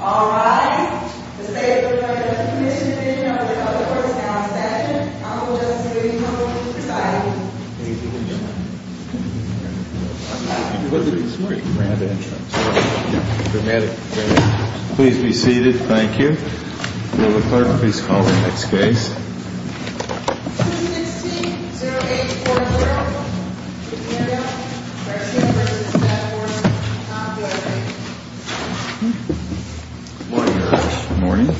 All rise. The State of Florida Commission Committee of the Public Works Council statute, Honorable Justice Levy, come forward to preside. Please be seated. Thank you. Will the clerk please call the next case. 216-0840. Good morning, Your Honor. Good morning.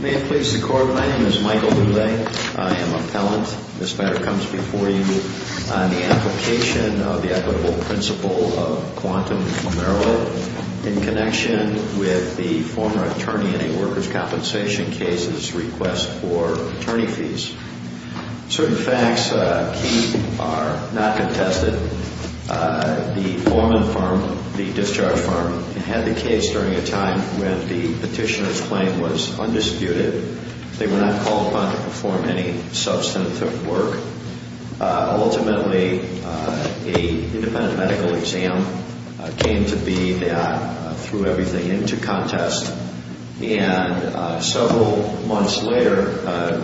May it please the Court, my name is Michael Boulay. I am appellant. This matter comes before you on the application of the equitable principle of quantum numero in connection with the former attorney in a workers' compensation case's request for attorney fees. Certain facts are not contested. The foreman firm, the discharge firm, had the case during a time when the petitioner's claim was undisputed. They were not called upon to perform any substantive work. Ultimately, an independent medical exam came to be that threw everything into contest. And several months later,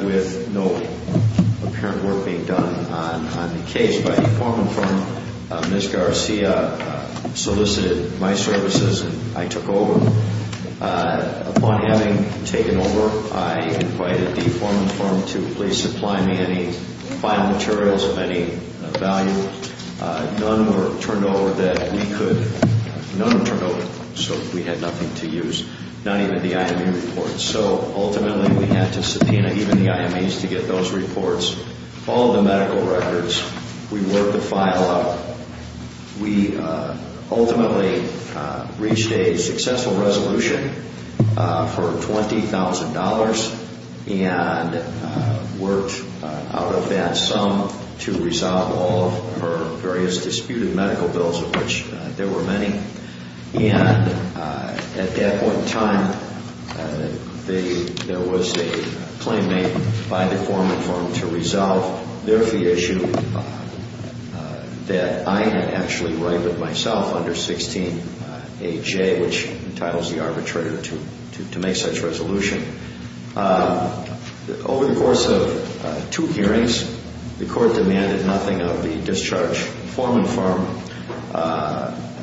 with no apparent work being done on the case by the foreman firm, Ms. Garcia solicited my services and I took over. Upon having taken over, I invited the foreman firm to please supply me any final materials of any value. None were turned over so we had nothing to use, not even the IME reports. So ultimately we had to subpoena even the IMEs to get those reports, all the medical records. We worked the file out. We ultimately reached a successful resolution for $20,000 and worked out of that sum to resolve all of her various disputed medical bills, of which there were many. And at that point in time, there was a claim made by the foreman firm to resolve their fee issue that I had actually righted with myself under 16AJ, which entitles the arbitrator to make such resolution. Over the course of two hearings, the court demanded nothing of the discharged foreman firm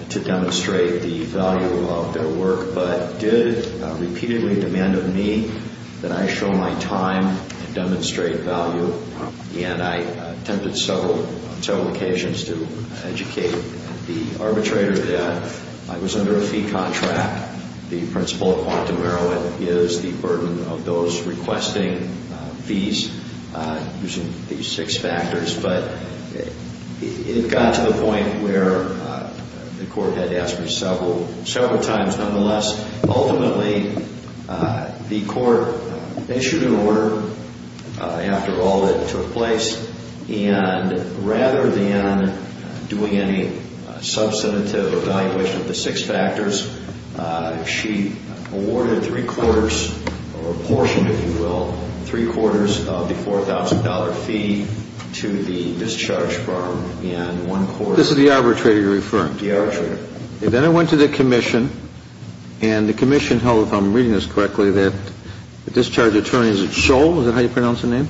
to demonstrate the value of their work, but did repeatedly demand of me that I show my time and demonstrate value. And I attempted several occasions to educate the arbitrator that I was under a fee contract. The principle of quantum heroin is the burden of those requesting fees using these six factors. But it got to the point where the court had to ask me several times. Nonetheless, ultimately, the court issued an order after all that took place, and rather than doing any substantive evaluation of the six factors, she awarded three-quarters, or a portion, if you will, three-quarters of the $4,000 fee to the discharged firm. And one quarter to the arbitrator you're referring to? The arbitrator. Then I went to the commission, and the commission held, if I'm reading this correctly, that the discharged attorney, is it Scholl, is that how you pronounce his name?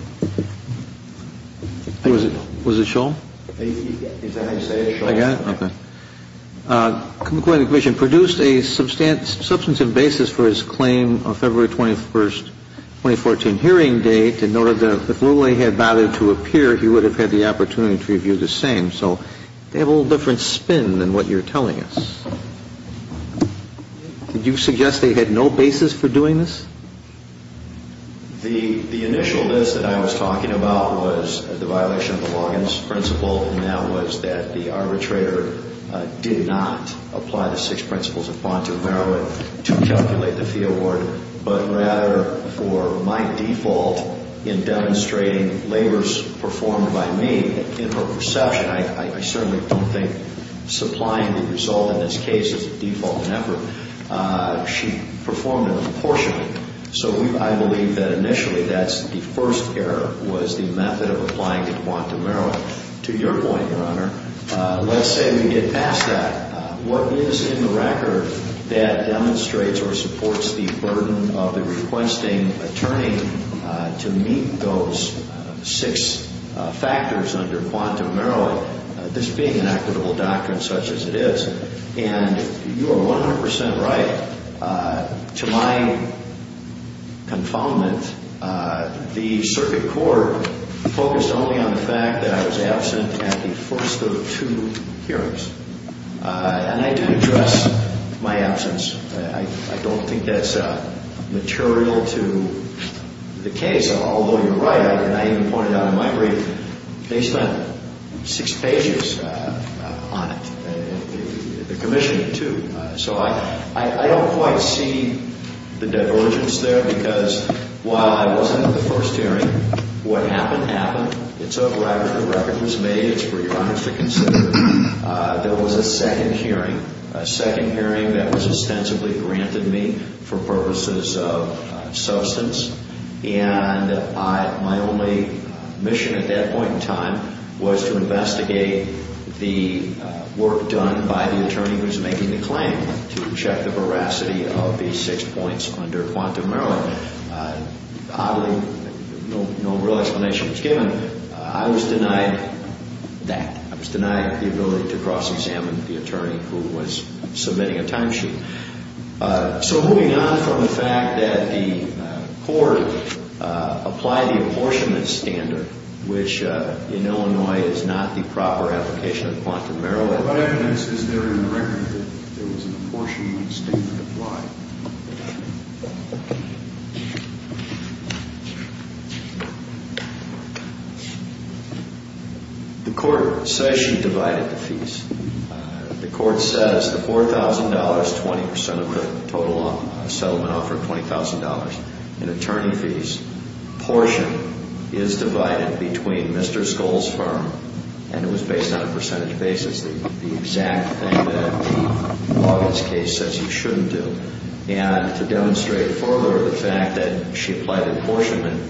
Was it Scholl? Is that how you say it, Scholl? I got it. Okay. According to the commission, produced a substantive basis for his claim on February 21st, 2014 hearing date, and noted that if Lula had bothered to appear, he would have had the opportunity to review the same. So they have a little different spin than what you're telling us. Did you suggest they had no basis for doing this? The initial list that I was talking about was the violation of the Loggins principle, and that was that the arbitrator did not apply the six principles of Pontot, Meroweth, to calculate the fee award, but rather for my default in demonstrating labors performed by me, in her perception. I certainly don't think supplying the result in this case is a default in effort. She performed it proportionately. So I believe that initially that's the first error, was the method of applying it to Pontot, Meroweth. To your point, Your Honor, let's say we get past that. What is in the record that demonstrates or supports the burden of the requesting attorney to meet those six factors under Pontot, Meroweth, this being an equitable doctrine such as it is? And you are 100% right. To my confoundment, the circuit court focused only on the fact that I was absent at the first of the two hearings. And I do address my absence. I don't think that's material to the case, although you're right, and I even pointed out in my brief they spent six pages on it, the commission too. So I don't quite see the divergence there because while I was in the first hearing, what happened happened. It's a record. The record was made. It's for Your Honor to consider. There was a second hearing, a second hearing that was ostensibly granted me for purposes of substance, and my only mission at that point in time was to investigate the work done by the attorney who's making the claim to check the veracity of these six points under Pontot, Meroweth. Oddly, no real explanation was given. I was denied that. I was denied the ability to cross-examine the attorney who was submitting a timesheet. So moving on from the fact that the court applied the apportionment standard, which in Illinois is not the proper application of Pontot, Meroweth. What evidence is there in the record that there was an apportionment standard applied? The court says she divided the fees. The court says the $4,000, 20 percent of the total settlement offered, $20,000 in attorney fees, portion is divided between Mr. Skoll's firm and it was based on a percentage basis. This is the exact thing that the Morgan's case says you shouldn't do. And to demonstrate further the fact that she applied the apportionment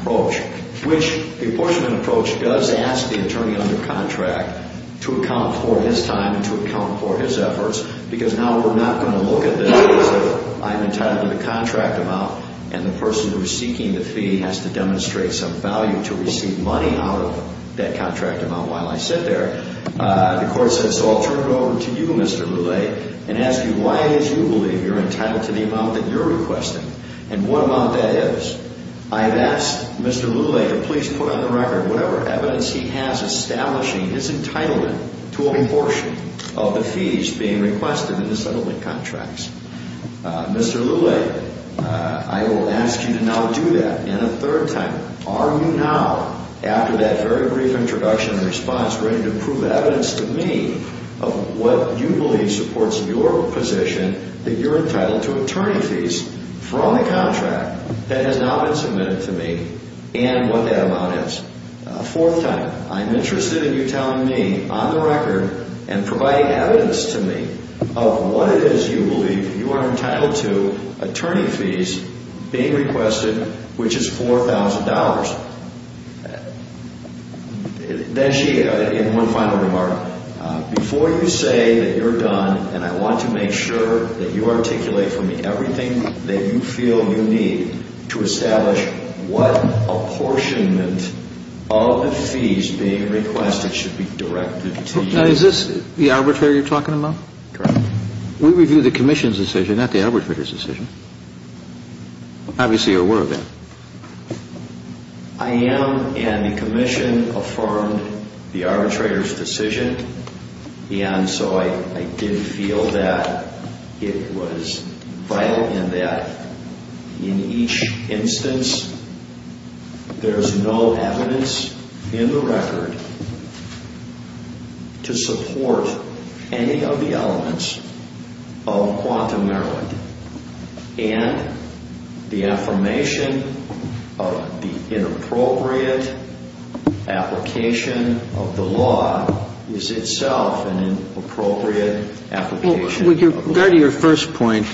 approach, which the apportionment approach does ask the attorney under contract to account for his time and to account for his efforts because now we're not going to look at this as if I'm entitled to the contract amount and the person who is seeking the fee has to demonstrate some value to receive money out of that contract amount while I sit there. The court says so I'll turn it over to you, Mr. Lulay, and ask you why it is you believe you're entitled to the amount that you're requesting and what amount that is. I have asked Mr. Lulay to please put on the record whatever evidence he has establishing his entitlement to apportion of the fees being requested in the settlement contracts. Mr. Lulay, I will ask you to now do that in a third time. Are you now, after that very brief introduction and response, ready to prove evidence to me of what you believe supports your position that you're entitled to attorney fees from the contract that has not been submitted to me and what that amount is? Fourth time, I'm interested in you telling me on the record and providing evidence to me of what it is you believe you are entitled to attorney fees being requested, which is $4,000. In one final remark, before you say that you're done and I want to make sure that you articulate for me everything that you feel you need to establish what apportionment of the fees being requested should be directed to you. Is this the arbitrator you're talking about? Correct. We review the commission's decision, not the arbitrator's decision. Obviously, you're aware of that. I am, and the commission affirmed the arbitrator's decision, and so I did feel that it was vital and that in each instance there's no evidence in the record to support any of the elements of quantum merit. And the affirmation of the inappropriate application of the law is itself an inappropriate application. With regard to your first point,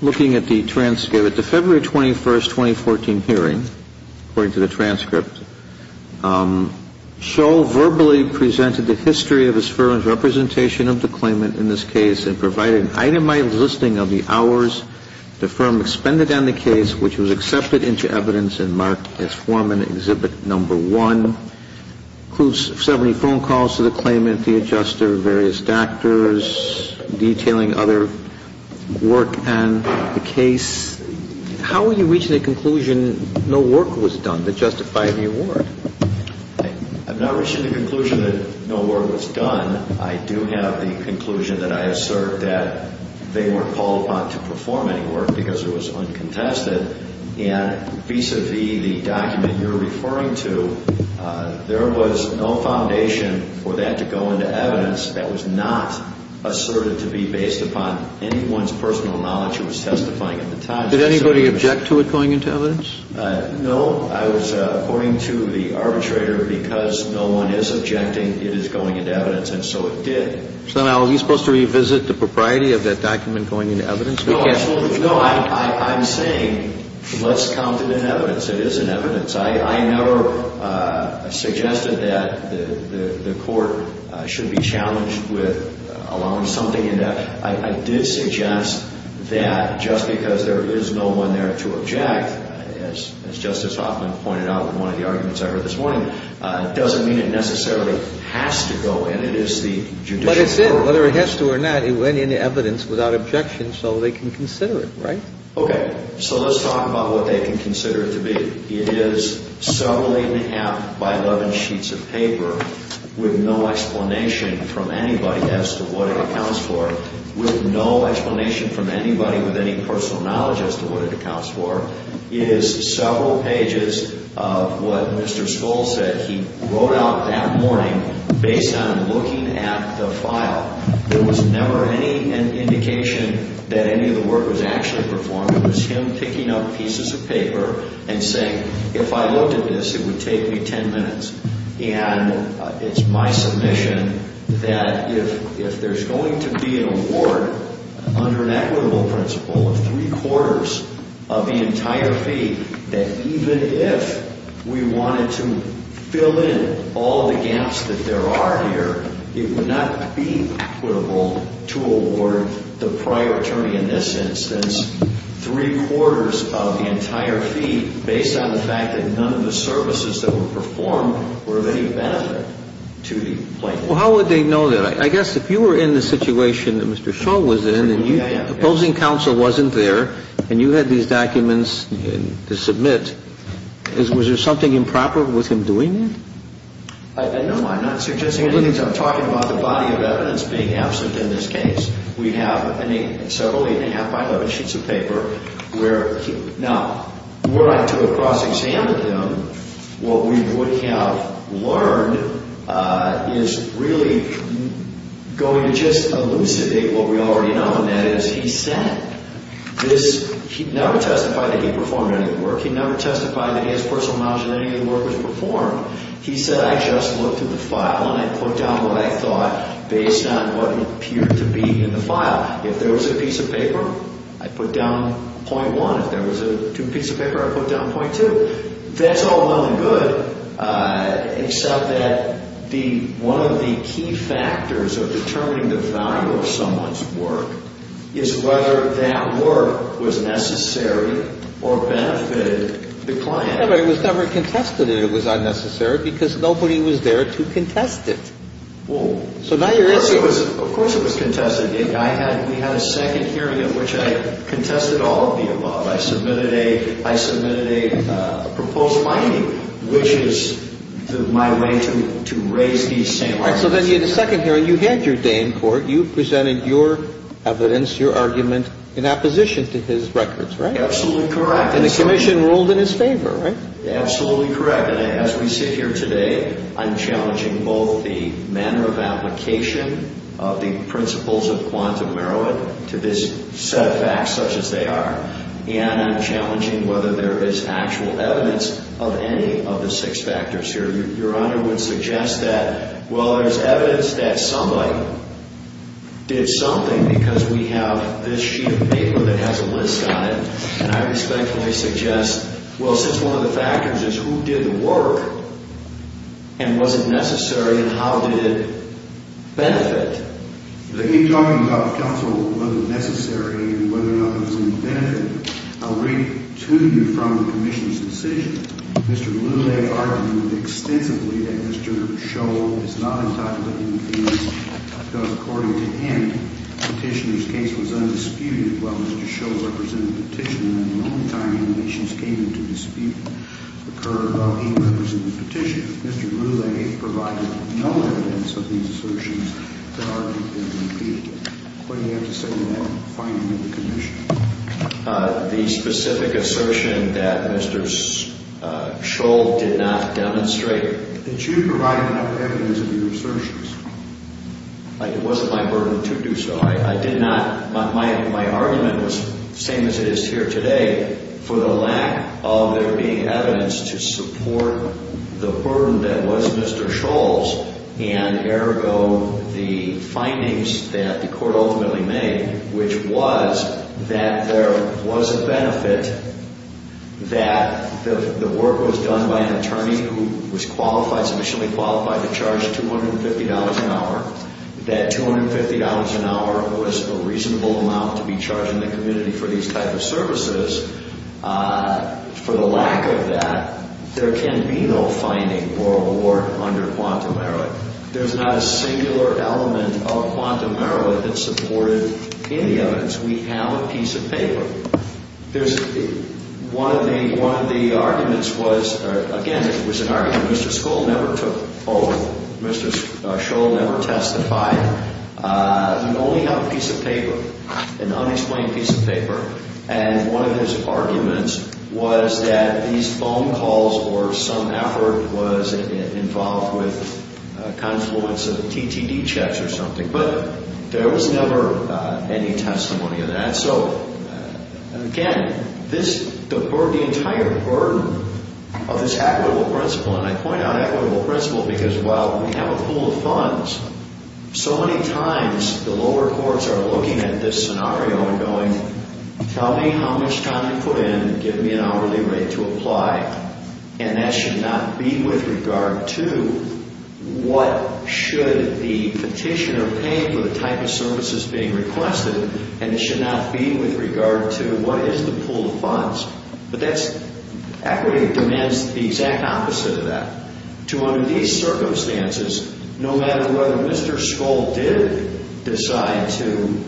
looking at the transcript, at the February 21st, 2014 hearing, according to the transcript, Scholl verbally presented the history of his firm's representation of the claimant in this case and provided an itemized listing of the hours the firm expended on the case, which was accepted into evidence and marked as Foreman Exhibit No. 1. It includes 70 phone calls to the claimant, the adjuster, various doctors, detailing other work on the case. How are you reaching the conclusion no work was done that justified the award? I'm not reaching the conclusion that no work was done. I do have the conclusion that I assert that they weren't called upon to perform any work because it was uncontested. And vis-à-vis the document you're referring to, there was no foundation for that to go into evidence. That was not asserted to be based upon anyone's personal knowledge who was testifying at the time. Did anybody object to it going into evidence? No. I was, according to the arbitrator, because no one is objecting, it is going into evidence. And so it did. So now are we supposed to revisit the propriety of that document going into evidence? No, absolutely. No, I'm saying let's count it in evidence. It is in evidence. I never suggested that the court should be challenged with allowing something in there. I did suggest that just because there is no one there to object, as Justice Hoffman pointed out in one of the arguments I heard this morning, doesn't mean it necessarily has to go in. It is the judicial authority. But it's in. Whether it has to or not, it went into evidence without objection so they can consider it, right? Okay. So let's talk about what they can consider it to be. It is several eight-and-a-half by 11 sheets of paper with no explanation from anybody as to what it accounts for, with no explanation from anybody with any personal knowledge as to what it accounts for. It is several pages of what Mr. Stoll said he wrote out that morning based on looking at the file. There was never any indication that any of the work was actually performed. It was him picking up pieces of paper and saying, if I looked at this, it would take me ten minutes. And it's my submission that if there's going to be an award under an equitable principle of three-quarters of the entire fee, that even if we wanted to fill in all the gaps that there are here, it would not be equitable to award the prior attorney in this instance three-quarters of the entire fee based on the fact that none of the services that were performed were of any benefit to the plaintiff. Well, how would they know that? I guess if you were in the situation that Mr. Stoll was in and you – opposing counsel wasn't there and you had these documents to submit, was there something improper with him doing it? No, I'm not suggesting anything. I'm talking about the body of evidence being absent in this case. We have several eight-and-a-half by 11 sheets of paper where – now, were I to have cross-examined them, what we would have learned is really going to just elucidate what we already know, and that is he said this – he never testified that he performed any of the work. He never testified that his personal knowledge of any of the work was performed. He said, I just looked at the file and I put down what I thought based on what appeared to be in the file. If there was a piece of paper, I put down .1. If there was two pieces of paper, I put down .2. That's all well and good, except that the – one of the key factors of determining the value of someone's work is whether that work was necessary or benefited the client. But it was never contested that it was unnecessary because nobody was there to contest it. So now you're – Of course it was contested. I had – we had a second hearing in which I contested all of the above. I submitted a – I submitted a proposed finding, which is my way to raise these same arguments. All right. So then you had a second hearing. You had your day in court. You presented your evidence, your argument in opposition to his records, right? Absolutely correct. And the commission ruled in his favor, right? Absolutely correct. And as we sit here today, I'm challenging both the manner of application of the principles of quantum merit to this set of facts such as they are. And I'm challenging whether there is actual evidence of any of the six factors here. Your Honor would suggest that, well, there's evidence that somebody did something because we have this sheet of paper that has a list on it. And I respectfully suggest, well, since one of the factors is who did the work and was it necessary and how did it benefit? In talking about the counsel whether it was necessary and whether or not it was going to benefit, I'll read to you from the commission's decision. Mr. Lulay argued extensively that Mr. Scholl is not entitled to be impeached because, according to him, the petitioner's case was undisputed while Mr. Scholl represented the petitioner. And in the meantime, allegations came into dispute occurred while he represented the petitioner. Mr. Lulay provided no evidence of these assertions that argued him to be impeached. What do you have to say to that finding of the commission? The specific assertion that Mr. Scholl did not demonstrate. Did you provide enough evidence of your assertions? It wasn't my burden to do so. My argument was the same as it is here today for the lack of there being evidence to support the burden that was Mr. Scholl's and, ergo, the findings that the court ultimately made, which was that there was a benefit, that the work was done by an attorney who was qualified, submissionally qualified, to charge $250 an hour. That $250 an hour was a reasonable amount to be charged in the community for these types of services. For the lack of that, there can be no finding or award under quantum merit. There's not a singular element of quantum merit that supported any evidence. We have a piece of paper. There's one of the arguments was, again, it was an argument Mr. Scholl never took over. Mr. Scholl never testified. He only had a piece of paper, an unexplained piece of paper. And one of his arguments was that these phone calls or some effort was involved with confluence of TTD checks or something. But there was never any testimony of that. So, again, this, the entire burden of this equitable principle, and I point out equitable principle because while we have a pool of funds, so many times the lower courts are looking at this scenario and going, tell me how much time you put in and give me an hourly rate to apply. And that should not be with regard to what should the petitioner pay for the type of services being requested, and it should not be with regard to what is the pool of funds. But that's, equity demands the exact opposite of that. To under these circumstances, no matter whether Mr. Scholl did decide to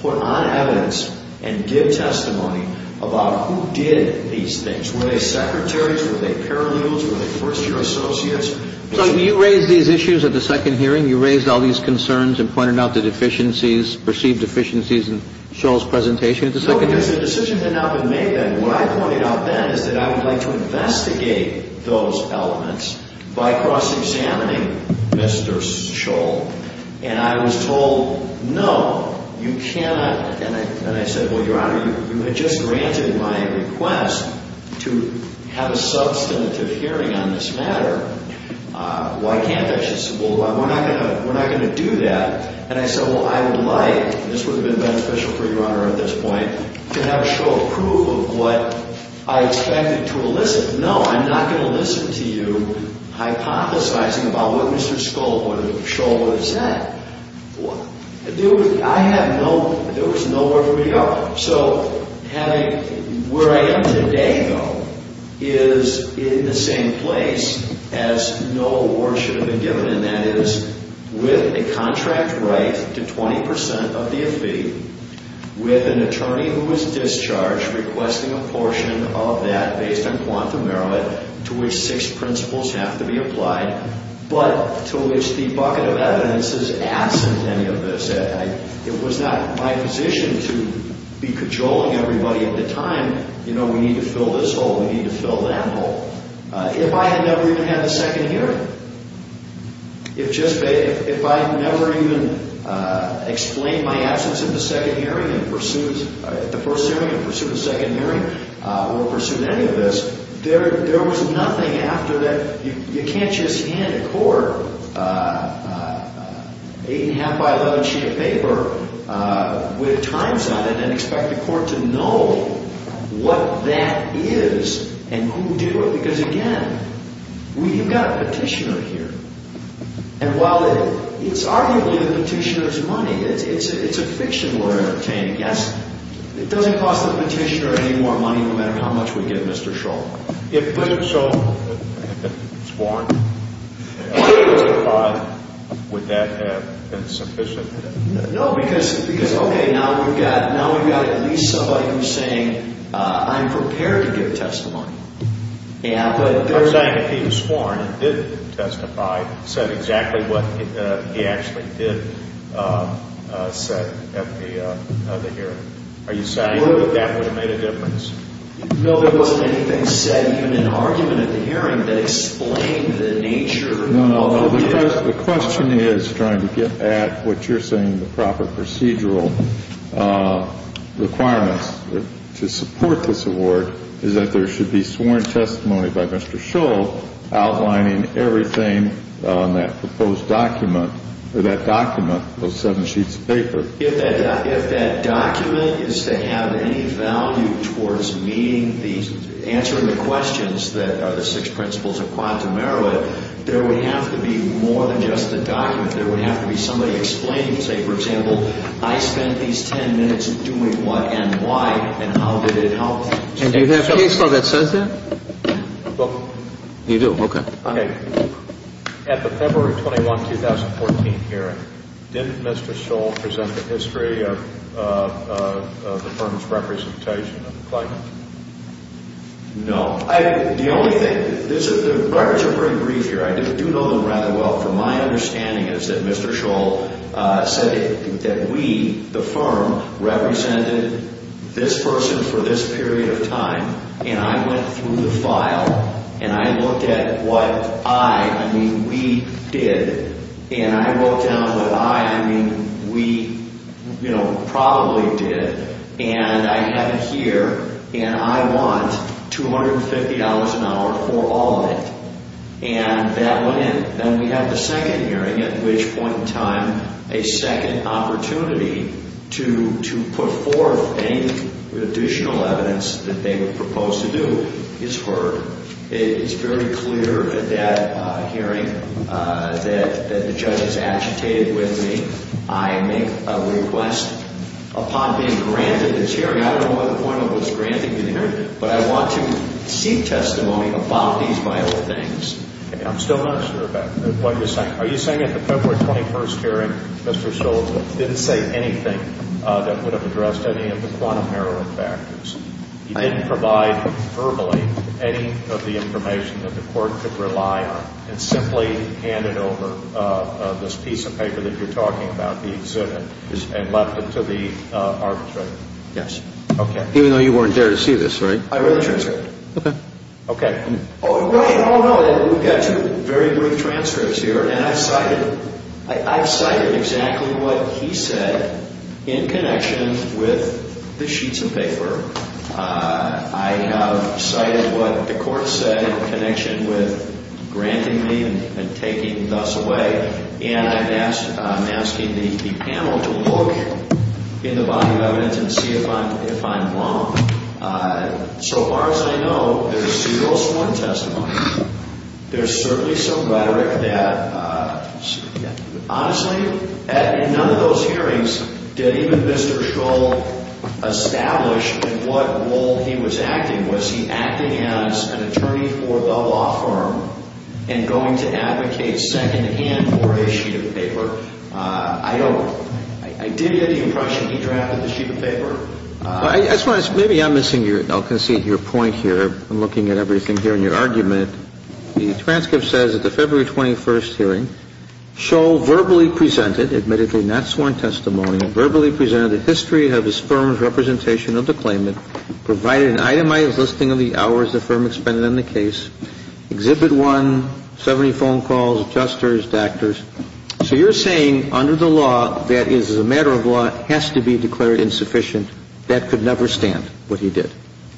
put on evidence and give testimony about who did these things. Were they secretaries? Were they paralegals? Were they first-year associates? So you raised these issues at the second hearing? You raised all these concerns and pointed out the deficiencies, perceived deficiencies in Scholl's presentation at the second hearing? No, because the decision had not been made then. What I pointed out then is that I would like to investigate those elements by cross-examining Mr. Scholl. And I was told, no, you cannot, and I said, well, Your Honor, you had just granted my request to have a substantive hearing on this matter. Why can't I? She said, well, we're not going to do that. And I said, well, I would like, and this would have been beneficial for Your Honor at this point, to have a show of proof of what I expected to elicit. No, I'm not going to listen to you hypothesizing about what Mr. Scholl would have said. There was nowhere for me to go. So having where I am today, though, is in the same place as no award should have been given, and that is with a contract right to 20 percent of the fee, with an attorney who was discharged requesting a portion of that based on quantum aramid to which six principles have to be applied, but to which the bucket of evidence is absent any of this. It was not my position to be cajoling everybody at the time, you know, we need to fill this hole, we need to fill that hole. If I had never even had the second hearing, if just, if I had never even explained my absence at the second hearing and pursued, at the first hearing and pursued the second hearing or pursued any of this, there was nothing after that. You can't just hand a court an 8.5 by 11 sheet of paper with times on it and expect the court to know what that is and who did it. Because again, we've got a petitioner here, and while it's arguably the petitioner's money, it's a fiction we're entertaining. Yes, it doesn't cost the petitioner any more money no matter how much we give Mr. Shull. If Mr. Shull had been sworn and testified, would that have been sufficient? No, because okay, now we've got at least somebody who's saying, I'm prepared to give testimony. I'm saying if he was sworn and did testify, said exactly what he actually did say at the hearing. Are you saying that that would have made a difference? No, there wasn't anything said even in argument at the hearing that explained the nature of the case. The question is, trying to get at what you're saying, the proper procedural requirements to support this award, is that there should be sworn testimony by Mr. Shull outlining everything on that proposed document, or that document, those 7 sheets of paper. If that document is to have any value towards answering the questions that are the six principles of quantum error, there would have to be more than just the document. There would have to be somebody explaining, say for example, I spent these 10 minutes doing what and why, and how did it help? And do you have a case law that says that? You do, okay. At the February 21, 2014 hearing, didn't Mr. Shull present the history of the firm's representation of the client? No. The only thing, the records are pretty brief here. I do know them rather well. My understanding is that Mr. Shull said that we, the firm, represented this person for this period of time, and I went through the file, and I looked at what I, I mean we, did, and I wrote down what I, I mean we, you know, probably did. And I had it here, and I want $250 an hour for all of it. And that went in. Then we had the second hearing, at which point in time, a second opportunity to put forth any additional evidence that they would propose to do is heard. It's very clear at that hearing that the judge is agitated with me. I make a request upon being granted this hearing. I don't know what the point of this granting the hearing, but I want to seek testimony about these vital things. Okay. I'm still not sure about what you're saying. Are you saying at the February 21 hearing, Mr. Shull didn't say anything that would have addressed any of the quantum heroin factors? He didn't provide verbally any of the information that the court could rely on, and simply handed over this piece of paper that you're talking about, the exhibit, and left it to the arbitrator? Yes. Okay. Even though you weren't there to see this, right? I read the transcript. Okay. Okay. Oh, wait. Oh, no. We've got two very brief transcripts here, and I've cited, I've cited exactly what he said in connection with the sheets of paper. I have cited what the court said in connection with granting me and taking thus away, and I'm asking the panel to look in the body of evidence and see if I'm wrong. So far as I know, there's zero sworn testimony. There's certainly some rhetoric that, honestly, in none of those hearings did even Mr. Shull establish what role he was acting. Was he acting as an attorney for the law firm and going to advocate secondhand for a sheet of paper? I don't know. I did get the impression he drafted the sheet of paper. I just want to say, maybe I'm missing your, I'll concede your point here. I'm looking at everything here in your argument. The transcript says, at the February 21st hearing, Shull verbally presented, admittedly not sworn testimony, verbally presented the history of his firm's representation of the claimant, provided an itemized listing of the hours the firm expended on the case, Exhibit 1, 70 phone calls, adjusters, doctors. So you're saying, under the law, that is, as a matter of law, has to be declared insufficient. That could never stand, what he did.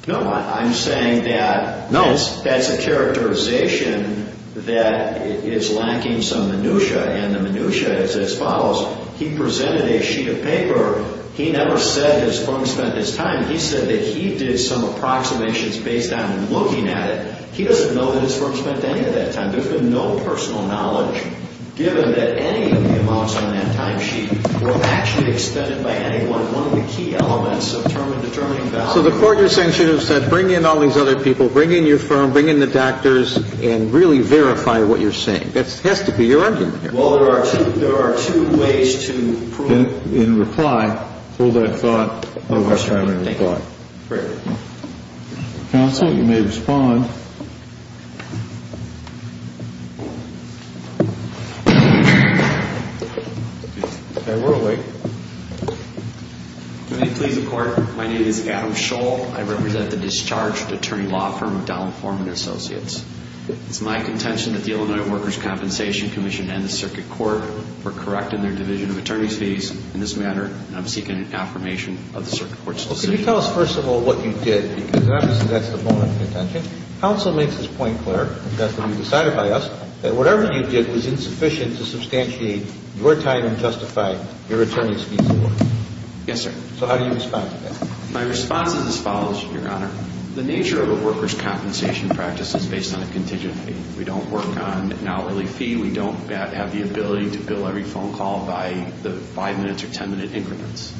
No, I'm saying that that's a characterization that is lacking some minutiae, and the minutiae is as follows. He presented a sheet of paper. He never said his firm spent his time. He said that he did some approximations based on looking at it. He doesn't know that his firm spent any of that time. There's been no personal knowledge, given that any of the amounts on that timesheet were actually expended by anyone, one of the key elements of determining value. So the court, you're saying, should have said, bring in all these other people, bring in your firm, bring in the doctors, and really verify what you're saying. That has to be your argument here. Well, there are two ways to prove it. In reply, hold that thought while we're trying to reply. Great. Counsel, you may respond. Okay, we're awake. Good evening, please, the court. My name is Adam Scholl. I represent the discharged attorney law firm of Donald Foreman and Associates. It's my contention that the Illinois Workers' Compensation Commission and the circuit court were correct in their division of attorney's fees in this matter, and I'm seeking an affirmation of the circuit court's decision. Well, can you tell us, first of all, what you did? Because obviously that's the bone of contention. Counsel makes his point clear, and that's been decided by us, that whatever you did was insufficient to substantiate your time and justify your attorney's fees. Yes, sir. So how do you respond to that? My response is as follows, Your Honor. The nature of a workers' compensation practice is based on a contingent fee. We don't work on an hourly fee. We don't have the ability to bill every phone call by the five-minute or ten-minute increments.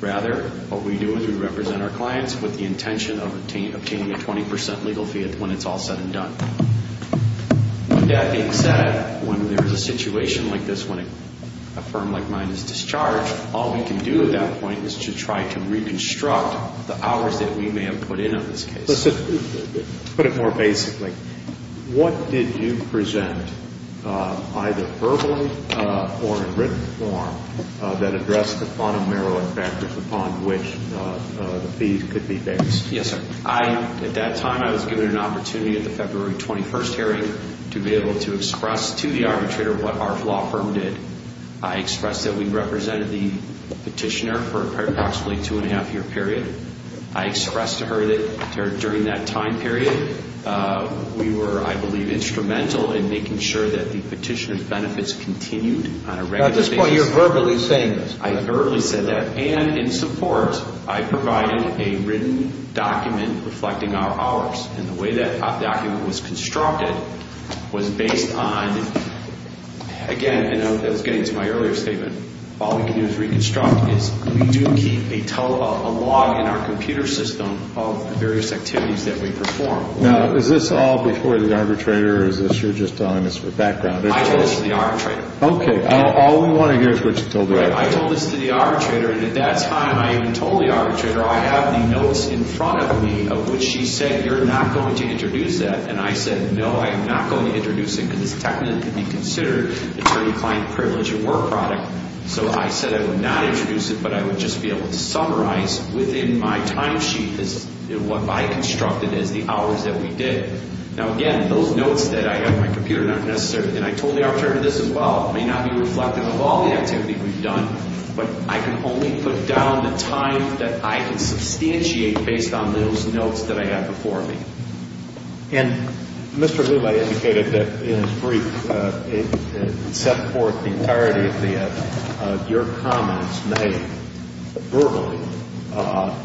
Rather, what we do is we represent our clients with the intention of obtaining a 20% legal fee when it's all said and done. With that being said, when there is a situation like this, when a firm like mine is discharged, all we can do at that point is to try to reconstruct the hours that we may have put in on this case. Let's put it more basically. What did you present, either verbally or in written form, that addressed the fundamental factors upon which the fees could be fixed? Yes, sir. At that time, I was given an opportunity at the February 21st hearing to be able to express to the arbitrator what our law firm did. I expressed that we represented the petitioner for approximately a two-and-a-half-year period. I expressed to her that during that time period, we were, I believe, instrumental in making sure that the petitioner's benefits continued on a regular basis. At this point, you're verbally saying this. I verbally said that. And in support, I provided a written document reflecting our hours. And the way that document was constructed was based on, again, and I was getting to my earlier statement, all we can do to reconstruct is we do keep a log in our computer system of the various activities that we perform. Now, is this all before the arbitrator, or is this you're just telling us for background? I told this to the arbitrator. Okay. All we want to hear is what you told the arbitrator. I told this to the arbitrator, and at that time, I even told the arbitrator, I have the notes in front of me of which she said, you're not going to introduce that. And I said, no, I'm not going to introduce it because it's technically considered attorney-client privilege and work product. So I said I would not introduce it, but I would just be able to summarize within my timesheet what I constructed as the hours that we did. Now, again, those notes that I have in my computer are not necessary. may not be reflective of all the activity we've done, but I can only put down the time that I can substantiate based on those notes that I have before me. And Mr. Lulay indicated that in his brief, it set forth the entirety of your comments made verbally,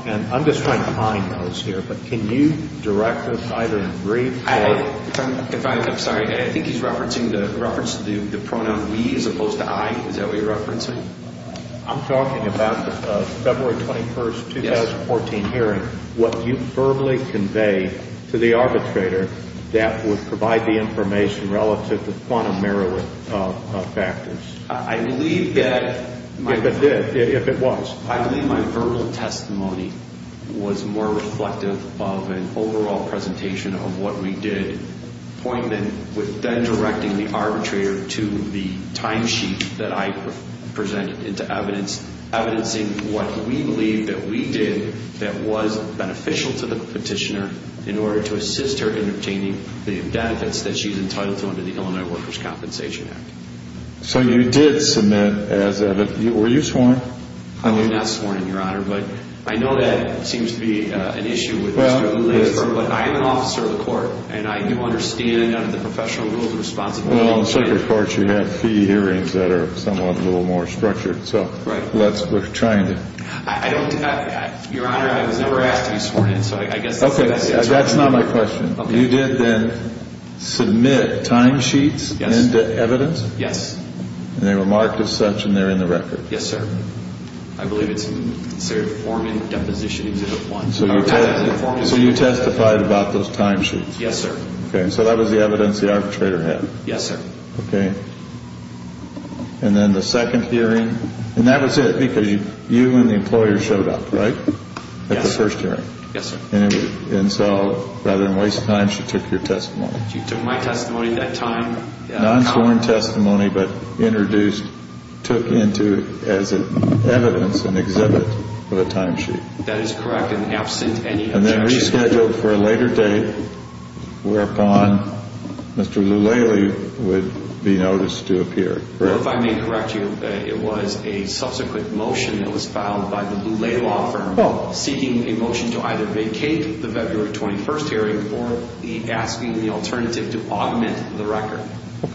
and I'm just trying to find those here, but can you direct us either in brief or? I'm sorry. I think he's referencing the pronoun we as opposed to I. Is that what you're referencing? I'm talking about the February 21st, 2014 hearing, what you verbally conveyed to the arbitrator that would provide the information relative to quantum merit factors. I believe that. If it did, if it was. I believe my verbal testimony was more reflective of an overall presentation of what we did, pointing with then directing the arbitrator to the timesheet that I presented into evidence, evidencing what we believe that we did that was beneficial to the petitioner in order to assist her in obtaining the benefits that she's entitled to under the Illinois Workers' Compensation Act. So you did submit as evidence. Were you sworn? I'm not sworn in, Your Honor, but I know that seems to be an issue with Mr. Lulay's term, but I am an officer of the court, and I do understand under the professional rules of responsibility. Well, in circuit courts, you have fee hearings that are somewhat a little more structured. So let's, we're trying to. I don't, Your Honor, I was never asked to be sworn in, so I guess that's the answer. That's not my question. You did then submit timesheets into evidence? Yes. And they were marked as such, and they're in the record? Yes, sir. I believe it's inserted form in deposition exhibit one. So you testified about those timesheets? Yes, sir. Okay. So that was the evidence the arbitrator had? Yes, sir. Okay. And then the second hearing, and that was it because you and the employer showed up, right, at the first hearing? Yes, sir. And so, rather than waste time, she took your testimony? She took my testimony at that time. Non-sworn testimony, but introduced, took into, as evidence, an exhibit of a timesheet? That is correct, and absent any objection. And then rescheduled for a later date, whereupon Mr. Lulay would be noticed to appear, correct? Well, if I may correct you, it was a subsequent motion that was filed by the Lulay law firm, seeking a motion to either vacate the February 21st hearing or asking the alternative to augment the record.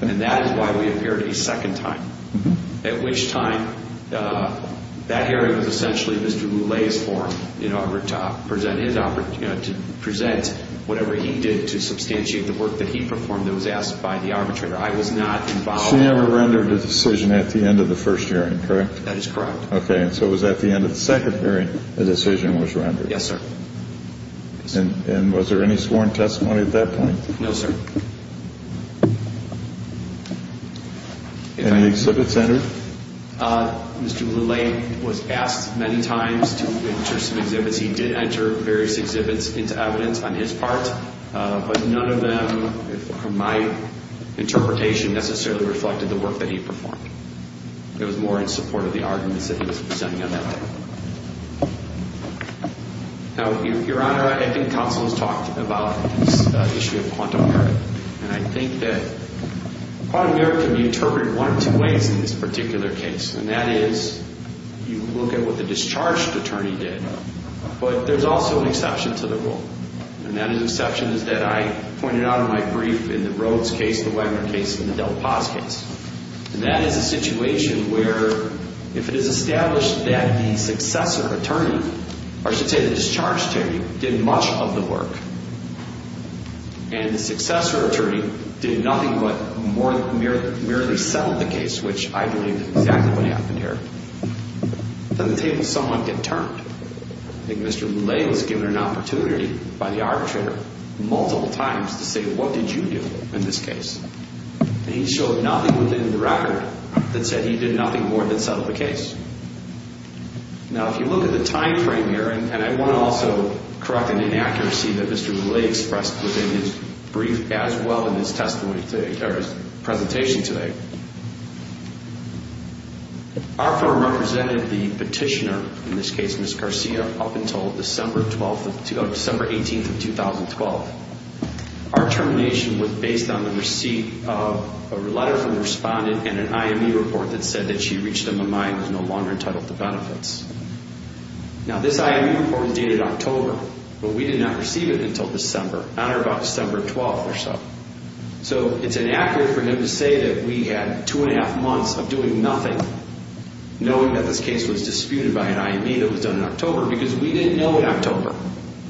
And that is why we appeared a second time, at which time that hearing was essentially Mr. Lulay's form, in order to present whatever he did to substantiate the work that he performed that was asked by the arbitrator. I was not involved. She never rendered a decision at the end of the first hearing, correct? That is correct. Okay, and so it was at the end of the second hearing a decision was rendered? Yes, sir. And was there any sworn testimony at that point? No, sir. Any exhibits entered? Mr. Lulay was asked many times to enter some exhibits. He did enter various exhibits into evidence on his part, but none of them, from my interpretation, necessarily reflected the work that he performed. It was more in support of the arguments that he was presenting on that day. Now, Your Honor, I think counsel has talked about this issue of quantum merit, and I think that quantum merit can be interpreted one of two ways in this particular case, and that is you look at what the discharged attorney did, but there's also an exception to the rule, and that exception is that I pointed out in my brief in the Rhodes case, the Wagner case, and the Del Paz case. And that is a situation where if it is established that the successor attorney, or I should say the discharged attorney, did much of the work, and the successor attorney did nothing but merely settle the case, which I believe is exactly what happened here, then the tables somewhat get turned. I think Mr. Lulay was given an opportunity by the arbitrator multiple times to say, that said he did nothing more than settle the case. Now, if you look at the time frame here, and I want to also correct an inaccuracy that Mr. Lulay expressed within his brief as well in his testimony today, or his presentation today, our firm represented the petitioner, in this case Ms. Garcia, up until December 12th, December 18th of 2012. Our termination was based on the receipt of a letter from the respondent and an IME report that said that she reached a mind and was no longer entitled to benefits. Now this IME report was dated October, but we did not receive it until December, on or about December 12th or so. So it's inaccurate for him to say that we had two and a half months of doing nothing, knowing that this case was disputed by an IME that was done in October, because we didn't know in October.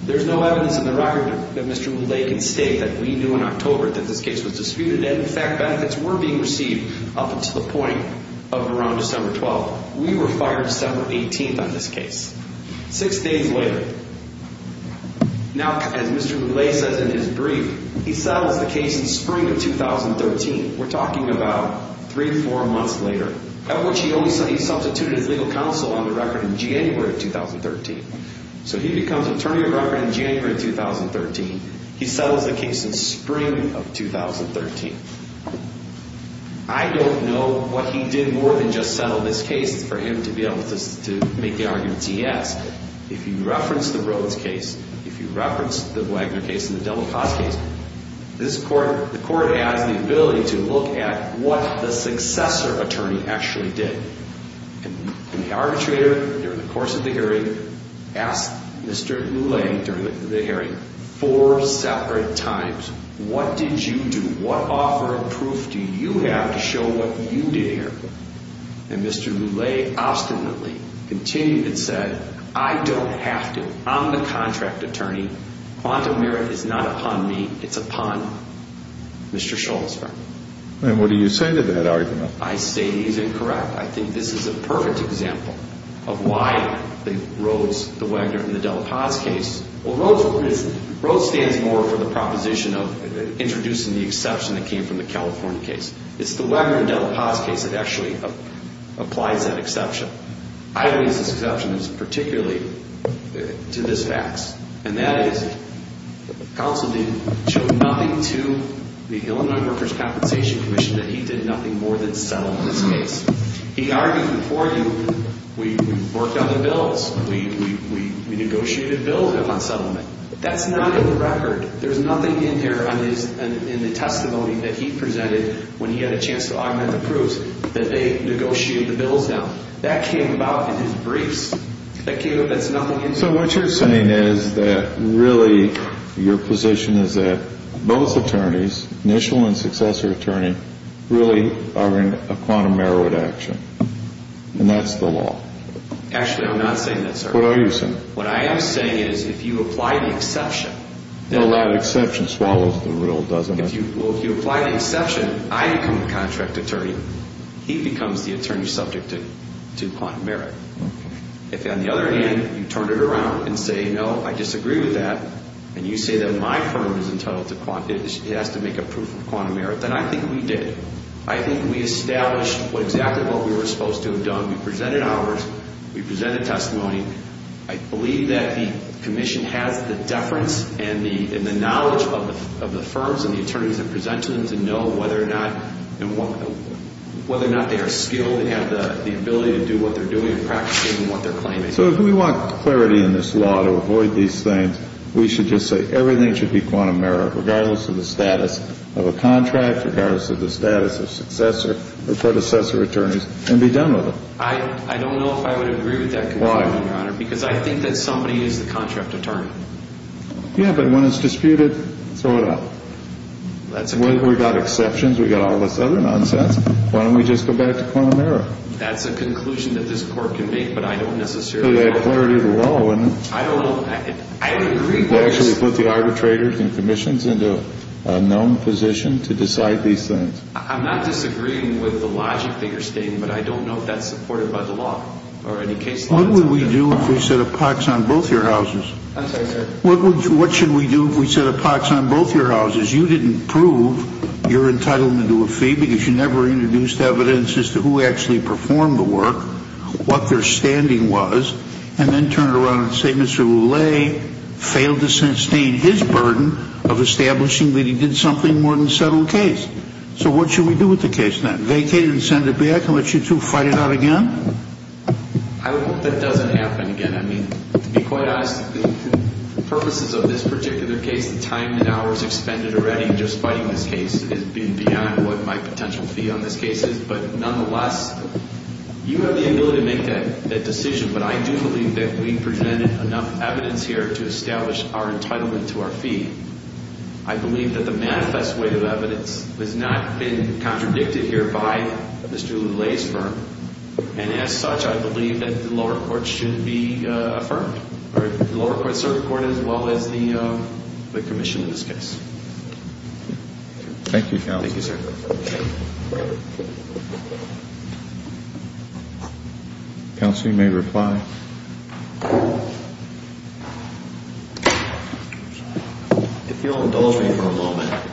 There's no evidence in the record that Mr. Lulay can state that we knew in October that this case was disputed, and in fact benefits were being received up until the point of around December 12th. We were fired December 18th on this case. Six days later, now as Mr. Lulay says in his brief, he settles the case in spring of 2013. We're talking about three, four months later, at which he only said he substituted his legal counsel on the record in January of 2013. So he becomes attorney of record in January of 2013. He settles the case in spring of 2013. I don't know what he did more than just settle this case for him to be able to make the argument he has. If you reference the Rhodes case, if you reference the Wagner case and the Delacoste case, the court has the ability to look at what the successor attorney actually did. And the arbitrator, during the course of the hearing, asked Mr. Lulay during the hearing four separate times, what did you do? What offer of proof do you have to show what you did here? And Mr. Lulay obstinately continued and said, I don't have to. I'm the contract attorney. Quantum merit is not upon me. It's upon Mr. Schultz. And what do you say to that argument? I say he's incorrect. I think this is a perfect example of why the Rhodes, the Wagner, and the Delaposte case. Well, Rhodes stands more for the proposition of introducing the exception that came from the California case. It's the Wagner and Delaposte case that actually applies that exception. I believe this exception is particularly to this fax. And that is counsel didn't show nothing to the Illinois Workers' Compensation Commission that he did nothing more than settle this case. He argued before we worked on the bills. We negotiated bills on settlement. That's not in the record. There's nothing in here in the testimony that he presented when he had a chance to augment the proofs, that they negotiated the bills down. That's nothing in here. So what you're saying is that really your position is that both attorneys, initial and successor attorney, really are in a quantum merit action. And that's the law. Actually, I'm not saying that, sir. What are you saying? What I am saying is if you apply the exception. Well, that exception swallows the real, doesn't it? Well, if you apply the exception, I become the contract attorney. He becomes the attorney subject to quantum merit. If, on the other hand, you turn it around and say, no, I disagree with that, and you say that my firm has to make a proof of quantum merit, then I think we did it. I think we established exactly what we were supposed to have done. We presented ours. We presented testimony. I believe that the commission has the deference and the knowledge of the firms and the attorneys that present to them to know whether or not they are skilled and have the ability to do what they're doing and practicing what they're claiming. So if we want clarity in this law to avoid these things, we should just say everything should be quantum merit, regardless of the status of a contract, regardless of the status of successor or predecessor attorneys, and be done with it. I don't know if I would agree with that conclusion, Your Honor. Why? Because I think that somebody is the contract attorney. Yeah, but when it's disputed, throw it out. That's a good point. We've got exceptions. We've got all this other nonsense. Why don't we just go back to quantum merit? That's a conclusion that this court can make, but I don't necessarily agree. So they have clarity of the law, isn't it? I don't know. I would agree. They actually put the arbitrators and commissions into a known position to decide these things. I'm not disagreeing with the logic that you're stating, but I don't know if that's supported by the law or any case law. What would we do if we set a pox on both your houses? I'm sorry, sir. What should we do if we set a pox on both your houses? You didn't prove you're entitled to do a fee because you never introduced evidence as to who actually performed the work, what their standing was, and then turn it around and say Mr. Lallet failed to sustain his burden of establishing that he did something more than settle a case. So what should we do with the case now? Vacate it and send it back and let you two fight it out again? I hope that doesn't happen again. To be quite honest, the purposes of this particular case, the time and hours expended already just fighting this case is beyond what my potential fee on this case is. But nonetheless, you have the ability to make that decision. But I do believe that we presented enough evidence here to establish our entitlement to our fee. I believe that the manifest way of evidence has not been contradicted here by Mr. Lallet's firm. And as such, I believe that the lower court should be affirmed. The lower court should be affirmed as well as the commission in this case. Thank you, counsel. Thank you, sir. Counsel, you may reply. If you'll indulge me for a moment.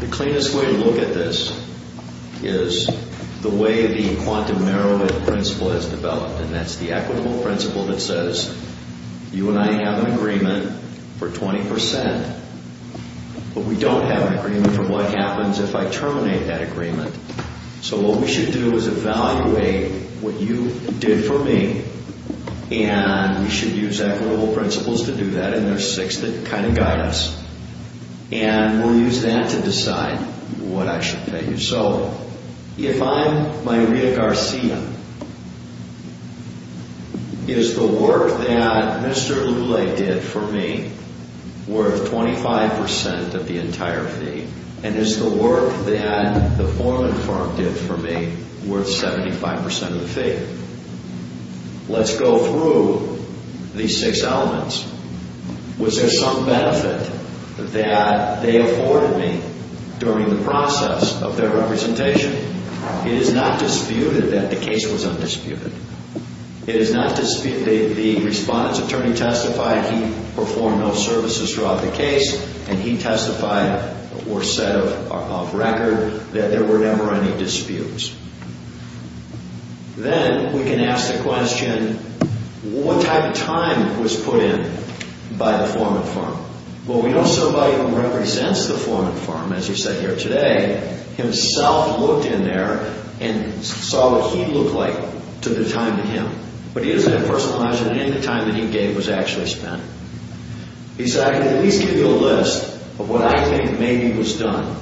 The cleanest way to look at this is the way the quantum narrowing principle is developed. And that's the equitable principle that says you and I have an agreement for 20 percent. But we don't have an agreement for what happens if I terminate that agreement. So what we should do is evaluate what you did for me. And we should use equitable principles to do that. And there are six that kind of guide us. And we'll use that to decide what I should pay you. So if I'm Maria Garcia, is the work that Mr. Lallet did for me worth 25 percent of the entire fee? And is the work that the Foreman firm did for me worth 75 percent of the fee? Let's go through these six elements. Was there some benefit that they afforded me during the process of their representation? It is not disputed that the case was undisputed. It is not disputed that the respondent's attorney testified he performed no services throughout the case. And he testified or said off record that there were never any disputes. Then we can ask the question, what type of time was put in by the Foreman firm? Well, we know somebody who represents the Foreman firm, as you said here today, himself looked in there and saw what he looked like to the time of him. But he doesn't have personal knowledge that any of the time that he gave was actually spent. He said, I can at least give you a list of what I think maybe was done.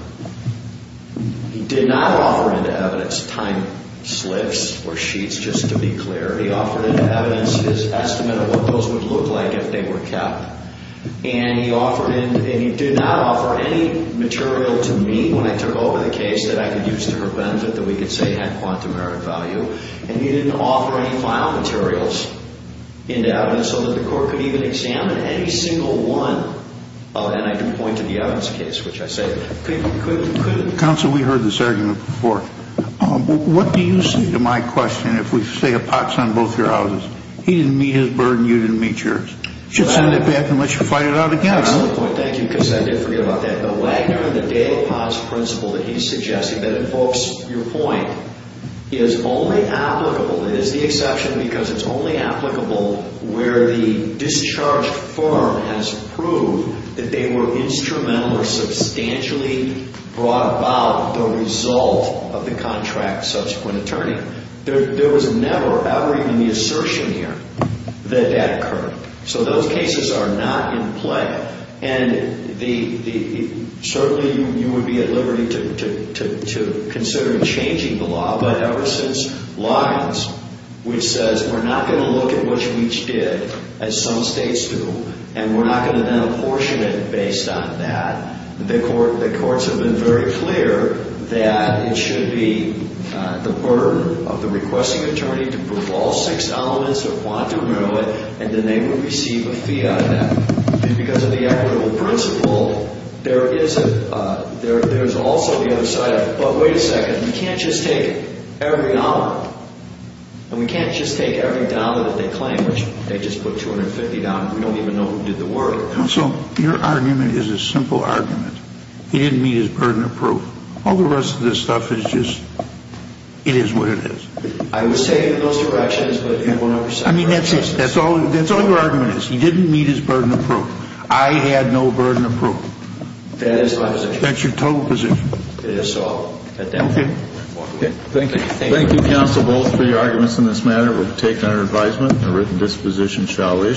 He did not offer into evidence time slips or sheets, just to be clear. He offered into evidence his estimate of what those would look like if they were kept. And he did not offer any material to me when I took over the case that I could use to her benefit, that we could say had quantum merit value. And he didn't offer any file materials into evidence so that the court could even examine any single one of them. Counsel, we heard this argument before. What do you say to my question if we say a pot's on both your houses? He didn't meet his burden, you didn't meet yours. You should send it back and let you fight it out again. Excellent point. Thank you. Because I did forget about that. The Wagner and the Dale Potts principle that he's suggesting that invokes your point is only applicable, it is the exception because it's only applicable where the discharged firm has proved that they were instrumental or substantially brought about the result of the contract's subsequent attorney. There was never, ever even the assertion here that that occurred. So those cases are not in play. And certainly you would be at liberty to consider changing the law, but ever since Lyons, which says we're not going to look at what you each did, as some states do, and we're not going to then apportion it based on that, the courts have been very clear that it should be the burden of the requesting attorney to prove all six elements of quantum merit and then they would receive a fee out of that. Because of the equitable principle, there is also the other side of it. But wait a second. You can't just take every dollar. And we can't just take every dollar that they claim, which they just put $250. We don't even know who did the work. Counsel, your argument is a simple argument. He didn't meet his burden of proof. All the rest of this stuff is just, it is what it is. I was taken in those directions, but everyone else... I mean, that's it. That's all your argument is. He didn't meet his burden of proof. I had no burden of proof. That is my position. That's your total position. Okay. Thank you. Thank you, Counsel Bowles, for your arguments in this matter. We'll take our advisement. A written disposition shall issue.